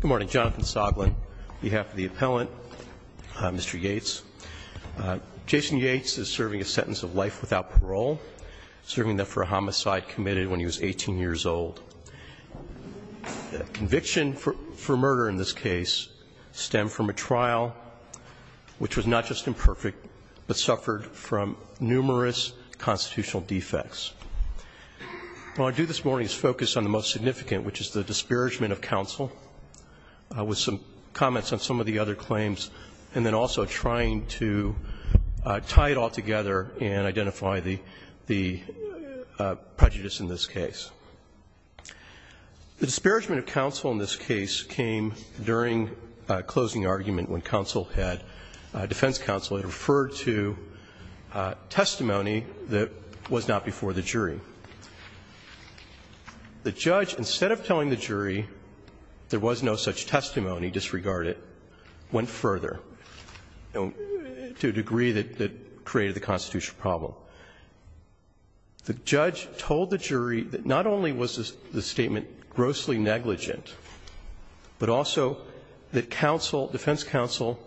Good morning. Jonathan Soglin on behalf of the appellant, Mr. Yates. Jason Yates is serving a sentence of life without parole, serving that for a homicide committed when he was 18 years old. The conviction for murder in this case stemmed from a trial which was not just imperfect, but suffered from numerous constitutional defects. What I'll do this morning is focus on the most significant, which is the disparagement of counsel, with some comments on some of the other claims, and then also trying to tie it all together and identify the prejudice in this case. The disparagement of counsel in this case came during a closing argument when counsel had, defense counsel had referred to testimony that was not before the jury. The judge, instead of telling the jury there was no such testimony, disregarded, went further to a degree that created the constitutional problem. The judge told the jury that not only was the statement grossly negligent, but also that counsel, defense counsel,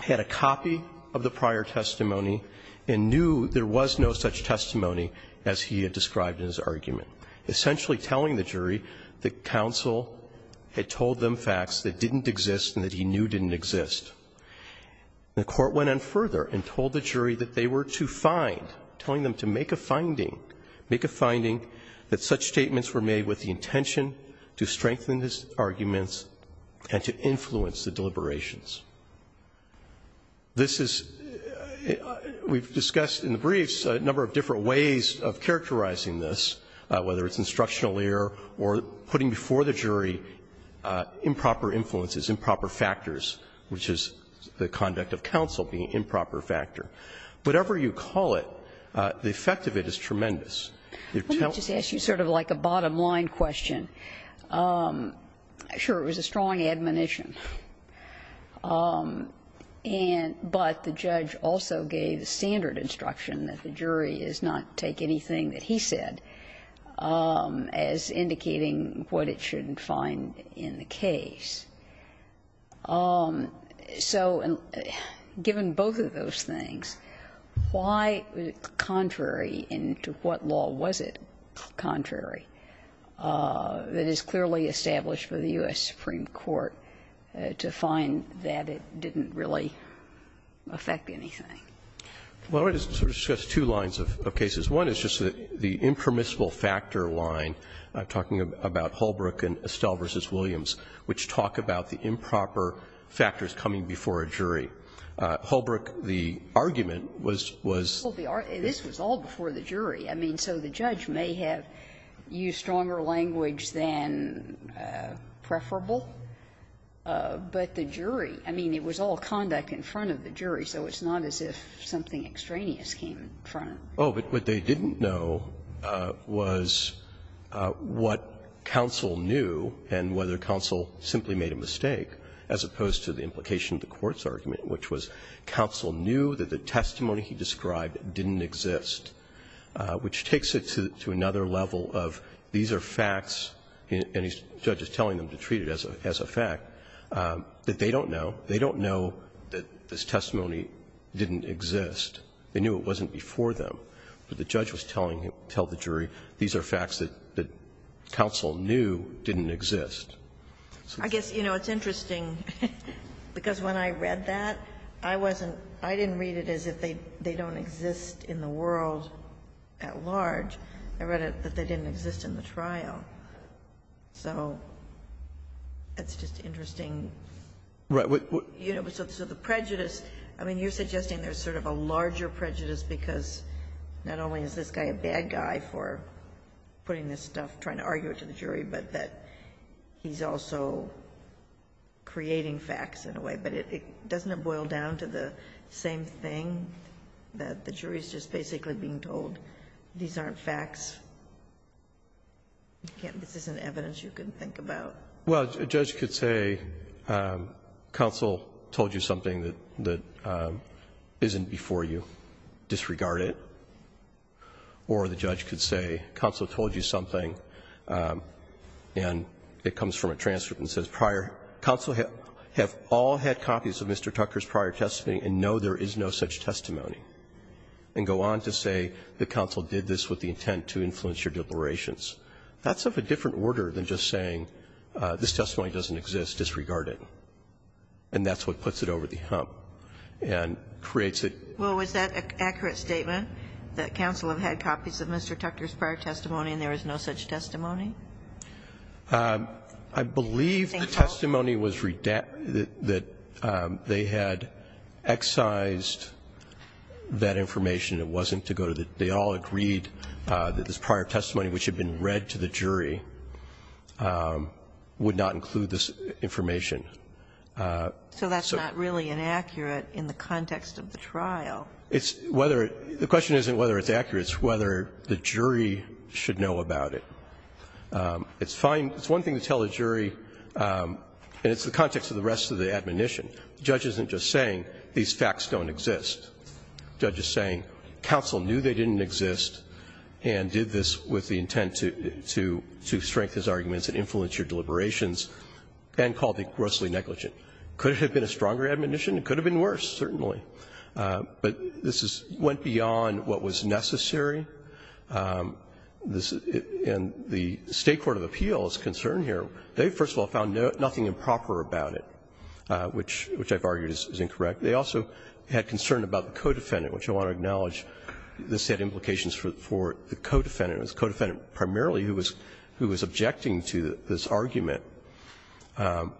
had a copy of the prior testimony and knew there was no such testimony as he had described in his argument, essentially telling the jury that counsel had told them facts that didn't exist and that he knew didn't exist. The court went on further and told the jury that they were to find, telling them to make a finding, make a finding that such statements were made with the intention to strengthen his arguments and to influence the deliberations. This is, we've discussed in the briefs a number of different ways of characterizing this, whether it's instructional error or putting before the jury improper influences, improper factors, which is the conduct of counsel being improper factor. Whatever you call it, the effect of it is tremendous. You're telling the jury. Ginsburg. Let me just ask you sort of like a bottom-line question. Sure, it was a strong admonition. And but the judge also gave the standard instruction that the jury is not to take anything that he said as indicating what it shouldn't find in the case. So given both of those things, why was it contrary and to what law was it contrary that is clearly established for the U.S. Supreme Court to find that it didn't really affect anything? Well, let me just sort of discuss two lines of cases. One is just the impermissible factor line. I'm talking about Holbrook and Estelle v. Williams, which talk about the improper factors coming before a jury. Holbrook, the argument was, was the argument. Well, this was all before the jury. I mean, so the judge may have used stronger language than preferable. But the jury, I mean, it was all conduct in front of the jury. So it's not as if something extraneous came in front. Oh, but what they didn't know was what counsel knew and whether counsel simply made a mistake, as opposed to the implication of the court's argument, which was counsel knew that the testimony he described didn't exist, which takes it to another level of these are facts, and the judge is telling them to treat it as a fact, that they don't know. They don't know that this testimony didn't exist. They knew it wasn't before them, but the judge was telling him, tell the jury, these are facts that counsel knew didn't exist. I guess, you know, it's interesting, because when I read that, I wasn't, I didn't read it as if they don't exist in the world at large. I read it that they didn't exist in the trial. So it's just interesting. Right. So the prejudice, I mean, you're suggesting there's sort of a larger prejudice because not only is this guy a bad guy for putting this stuff, trying to argue it to the jury, but that he's also creating facts in a way. But doesn't it boil down to the same thing, that the jury's just basically being told these aren't facts? This isn't evidence you can think about. Well, a judge could say, counsel told you something that isn't before you. Disregard it. Or the judge could say, counsel told you something, and it comes from a transcript and says prior, counsel have all had copies of Mr. Tucker's prior testimony and know there is no such testimony. And go on to say that counsel did this with the intent to influence your declarations. That's of a different order than just saying this testimony doesn't exist. Disregard it. And that's what puts it over the hump and creates it. Well, was that an accurate statement, that counsel have had copies of Mr. Tucker's prior testimony and there is no such testimony? I believe the testimony was that they had excised that information. It wasn't to go to the they all agreed that this prior testimony, which had been read to the jury, would not include this information. So that's not really inaccurate in the context of the trial. It's whether the question isn't whether it's accurate. It's whether the jury should know about it. It's fine. It's one thing to tell the jury, and it's the context of the rest of the admonition. The judge isn't just saying these facts don't exist. The judge is saying counsel knew they didn't exist and did this with the intent to strengthen his arguments and influence your deliberations and called it grossly negligent. Could it have been a stronger admonition? It could have been worse, certainly. But this went beyond what was necessary. And the State court of appeal is concerned here. They, first of all, found nothing improper about it, which I've argued is incorrect. They also had concern about the co-defendant, which I want to acknowledge. This had implications for the co-defendant. It was the co-defendant primarily who was objecting to this argument. And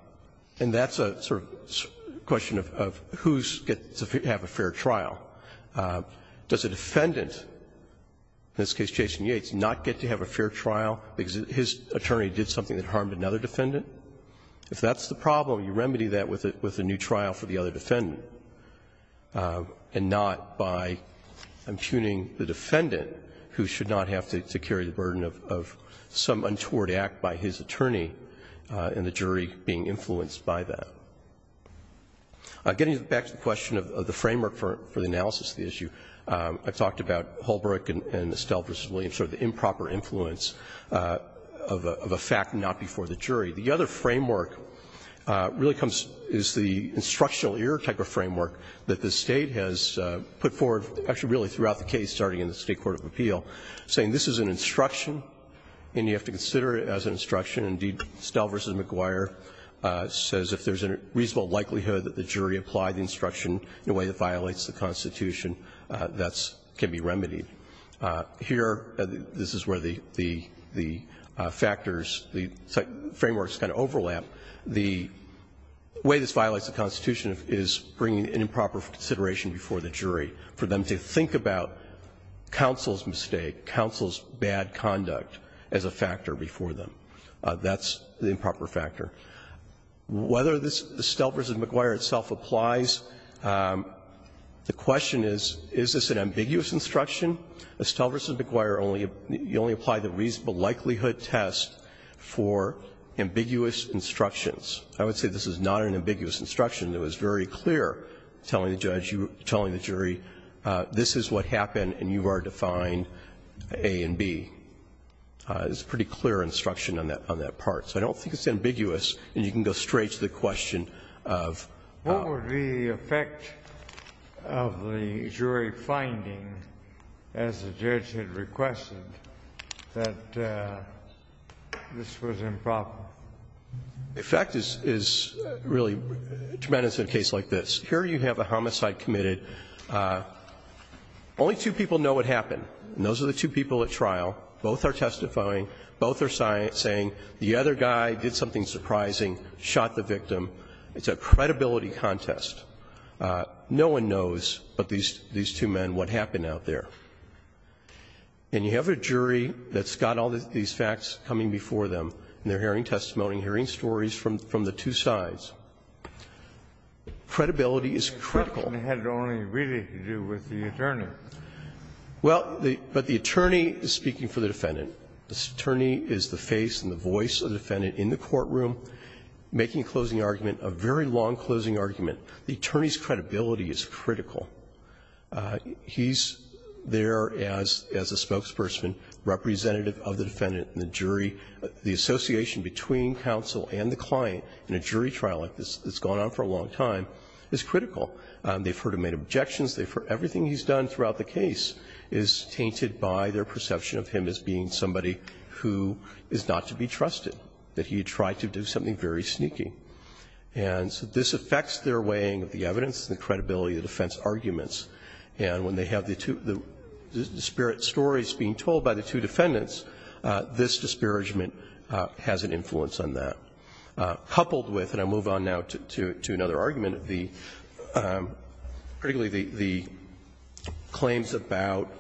that's a sort of question of who gets to have a fair trial. Does a defendant, in this case Jason Yates, not get to have a fair trial because his attorney did something that harmed another defendant? If that's the problem, you remedy that with a new trial for the other defendant and not by impugning the defendant who should not have to carry the burden of some untoward act by his attorney and the jury being influenced by that. Getting back to the question of the framework for the analysis of the issue, I talked about Holbrook and Estelle v. Williams, sort of the improper influence of a fact and not before the jury. The other framework really comes as the instructional error type of framework that the State has put forward actually really throughout the case, starting in the State court of appeal, saying this is an instruction and you have to consider it as an instruction. Indeed, Estelle v. McGuire says if there's a reasonable likelihood that the jury applied the instruction in a way that violates the Constitution, that can be remedied. Here, this is where the factors, the frameworks kind of overlap. The way this violates the Constitution is bringing in improper consideration before the jury for them to think about counsel's mistake, counsel's bad conduct as a factor before them. That's the improper factor. Whether this Estelle v. McGuire itself applies, the question is, is this an ambiguous instruction? Estelle v. McGuire only applied the reasonable likelihood test for ambiguous instructions. I would say this is not an ambiguous instruction. It was very clear, telling the judge, telling the jury, this is what happened and you are to find A and B. It's a pretty clear instruction on that part. So I don't think it's ambiguous. The effect is really tremendous in a case like this. Here you have a homicide committed. Only two people know what happened, and those are the two people at trial. Both are testifying. Both are saying the other guy did something surprising, shot the victim. It's a credibility contest. No one knows but these two men what happened out there. And you have a jury that's got all these facts coming before them, and they are hearing testimony, hearing stories from the two sides. Credibility is critical. Kennedy had it only really to do with the attorney. Well, but the attorney is speaking for the defendant. The attorney is the face and the voice of the defendant in the courtroom making a closing argument, a very long closing argument. The attorney's credibility is critical. He's there as a spokesperson, representative of the defendant and the jury. The association between counsel and the client in a jury trial like this that's gone on for a long time is critical. They've heard him make objections. They've heard everything he's done throughout the case is tainted by their perception of him as being somebody who is not to be trusted, that he had tried to do something very sneaky. And so this affects their weighing of the evidence and the credibility of the defense arguments. And when they have the two, the disparate stories being told by the two defendants, this disparagement has an influence on that. Coupled with, and I move on now to another argument of the, particularly the claims about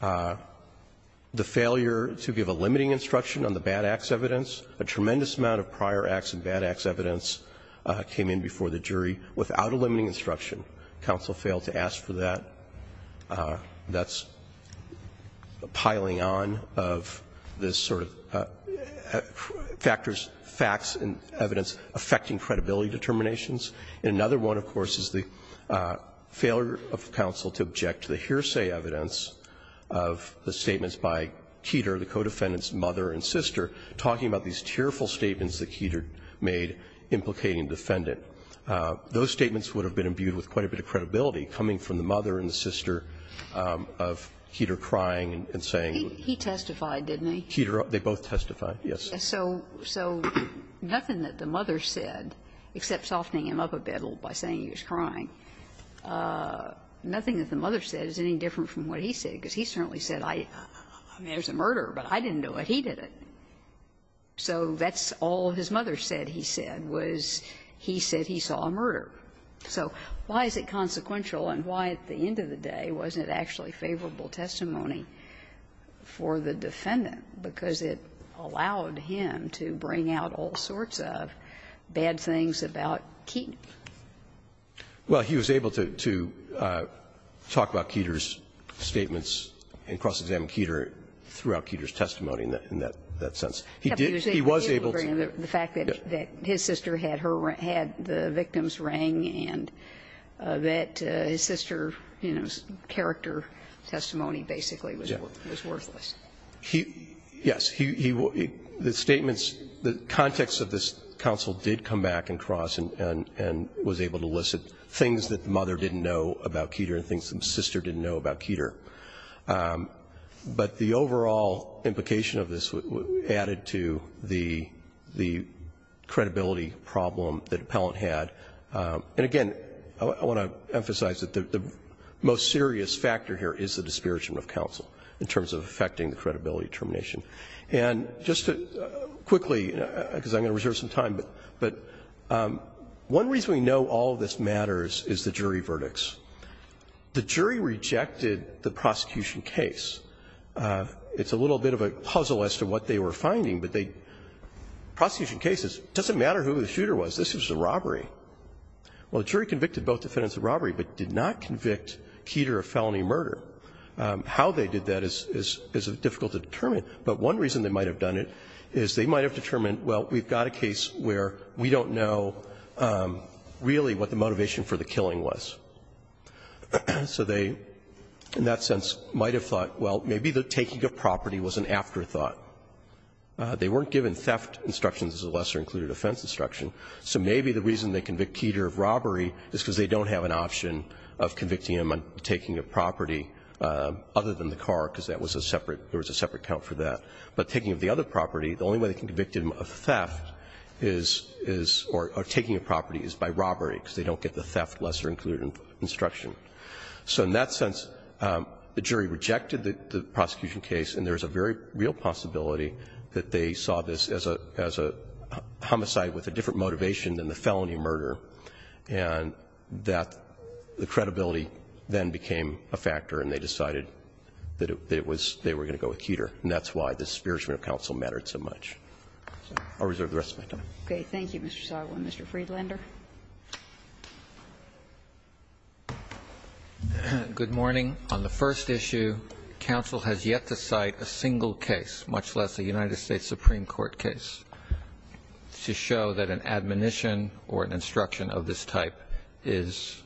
the failure to give a limiting instruction on the bad acts evidence. A tremendous amount of prior acts and bad acts evidence came in before the jury without a limiting instruction. Counsel failed to ask for that. That's piling on of this sort of factors, facts and evidence affecting credibility determinations. And another one, of course, is the failure of counsel to object to the hearsay evidence of the statements by Keeter, the co-defendant's mother and sister, talking about these tearful statements that Keeter made implicating the defendant. Those statements would have been imbued with quite a bit of credibility coming from the mother and the sister of Keeter crying and saying. He testified, didn't he? Keeter, they both testified, yes. So nothing that the mother said, except softening him up a bit by saying he was crying, nothing that the mother said is any different from what he said, because he certainly said I, I mean, there's a murder, but I didn't do it, he did it. So that's all his mother said he said was he said he saw a murder. So why is it consequential, and why at the end of the day wasn't it actually favorable testimony for the defendant? Because it allowed him to bring out all sorts of bad things about Keeter. Well, he was able to talk about Keeter's statements and cross-examine Keeter throughout Keeter's testimony in that sense. He did, he was able to. The fact that his sister had her, had the victim's ring and that his sister's character testimony basically was worthless. Yes. The statements, the context of this counsel did come back and cross and was able to elicit things that the mother didn't know about Keeter and things that the sister didn't know about Keeter. But the overall implication of this added to the credibility problem that Appellant had, and again, I want to emphasize that the most serious factor here is the jury. And just quickly, because I'm going to reserve some time, but one reason we know all of this matters is the jury verdicts. The jury rejected the prosecution case. It's a little bit of a puzzle as to what they were finding, but they, prosecution cases, it doesn't matter who the shooter was. This was a robbery. Well, the jury convicted both defendants of robbery, but did not convict Keeter of felony murder. How they did that is difficult to determine, but one reason they might have done it is they might have determined, well, we've got a case where we don't know really what the motivation for the killing was. So they, in that sense, might have thought, well, maybe the taking of property was an afterthought. They weren't given theft instructions as a lesser included offense instruction, so maybe the reason they convict Keeter of robbery is because they don't have an option of convicting him on taking a property other than the car, because that was a separate account for that. But taking of the other property, the only way they can convict him of theft is, or taking of property, is by robbery, because they don't get the theft lesser included instruction. So in that sense, the jury rejected the prosecution case, and there's a very real possibility that they saw this as a homicide with a different motivation than the felony murder. And that the credibility then became a factor, and they decided that it was they were going to go with Keeter. And that's why the spearagement of counsel mattered so much. I'll reserve the rest of my time. Okay. Thank you, Mr. Sago. Mr. Friedlander. Good morning. On the first issue, counsel has yet to cite a single case, much less a United States case, where a definition or an instruction of this type is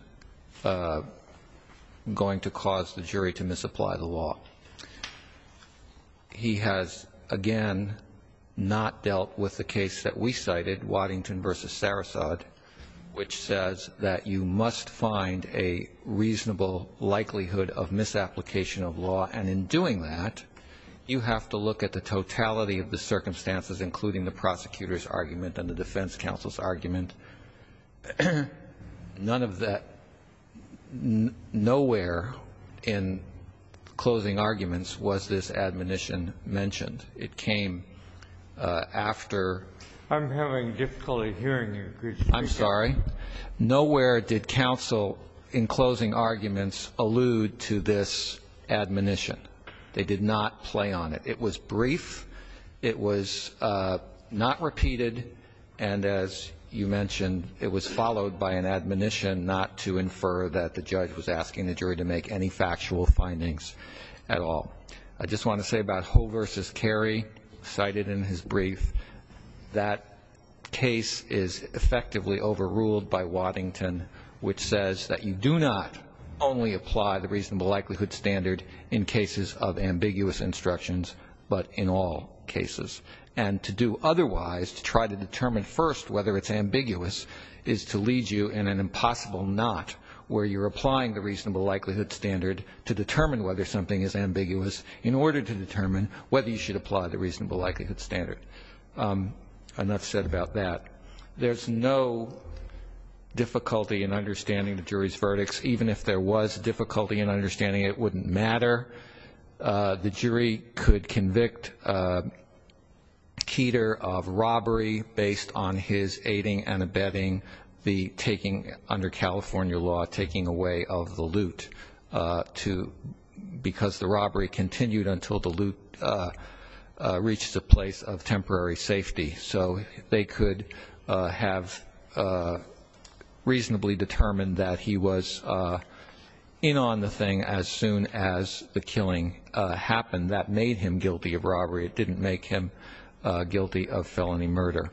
going to cause the jury to misapply the law. He has, again, not dealt with the case that we cited, Waddington v. Sarasot, which says that you must find a reasonable likelihood of misapplication of law. And in doing that, you have to look at the totality of the circumstances, including the prosecutor's argument and the defense counsel's argument. None of that ñ nowhere in closing arguments was this admonition mentioned. It came after ñ I'm having difficulty hearing you, Mr. Friedlander. I'm sorry. Nowhere did counsel in closing arguments allude to this admonition. They did not play on it. It was brief. It was not repeated. And as you mentioned, it was followed by an admonition not to infer that the judge was asking the jury to make any factual findings at all. I just want to say about Ho v. Carey, cited in his brief, that case is effectively overruled by Waddington, which says that you do not only apply the reasonable likelihood standard in cases of ambiguous instructions, but in all cases. And to do otherwise, to try to determine first whether it's ambiguous, is to lead you in an impossible knot where you're applying the reasonable likelihood standard to determine whether something is ambiguous in order to determine whether you should apply the reasonable likelihood standard. Enough said about that. There's no difficulty in understanding the jury's verdicts, even if there was difficulty in understanding it wouldn't matter. The jury could convict Keter of robbery based on his aiding and abetting the taking, under California law, taking away of the loot because the robbery continued until the loot reached a place of temporary safety. So they could have reasonably determined that he was in on the thing as soon as the killing happened. That made him guilty of robbery. It didn't make him guilty of felony murder.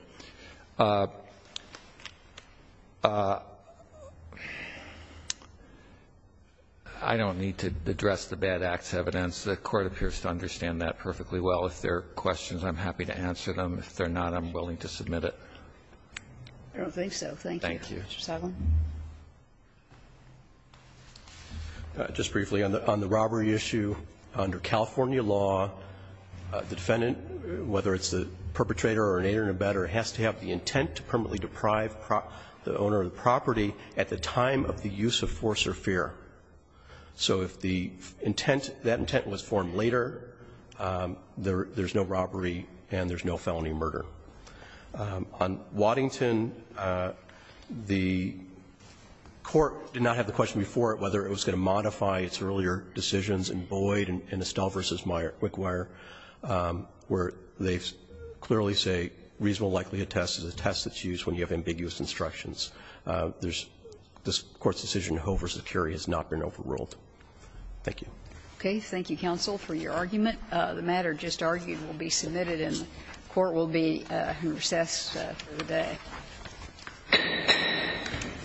I don't need to address the bad acts evidence. The Court appears to understand that perfectly well. If there are questions, I'm happy to answer them. If there are not, I'm willing to submit it. Kagan. Thank you. Roberts. Just briefly, on the robbery issue, under California law, the defendant, whether it's the perpetrator or an aider and abetter, has to have the intent to permanently deprive the owner of the property at the time of the use of force or fear. So if the intent, that intent was formed later, there's no robbery and there's no felony murder. On Waddington, the Court did not have the question before it whether it was going to modify its earlier decisions in Boyd and Estelle v. Quickwire, where they clearly say reasonable likelihood test is a test that's used when you have ambiguous instructions. This Court's decision in Hove v. Curie has not been overruled. Thank you. Okay. Thank you, counsel, for your argument. The matter just argued will be submitted and the Court will be in recess for the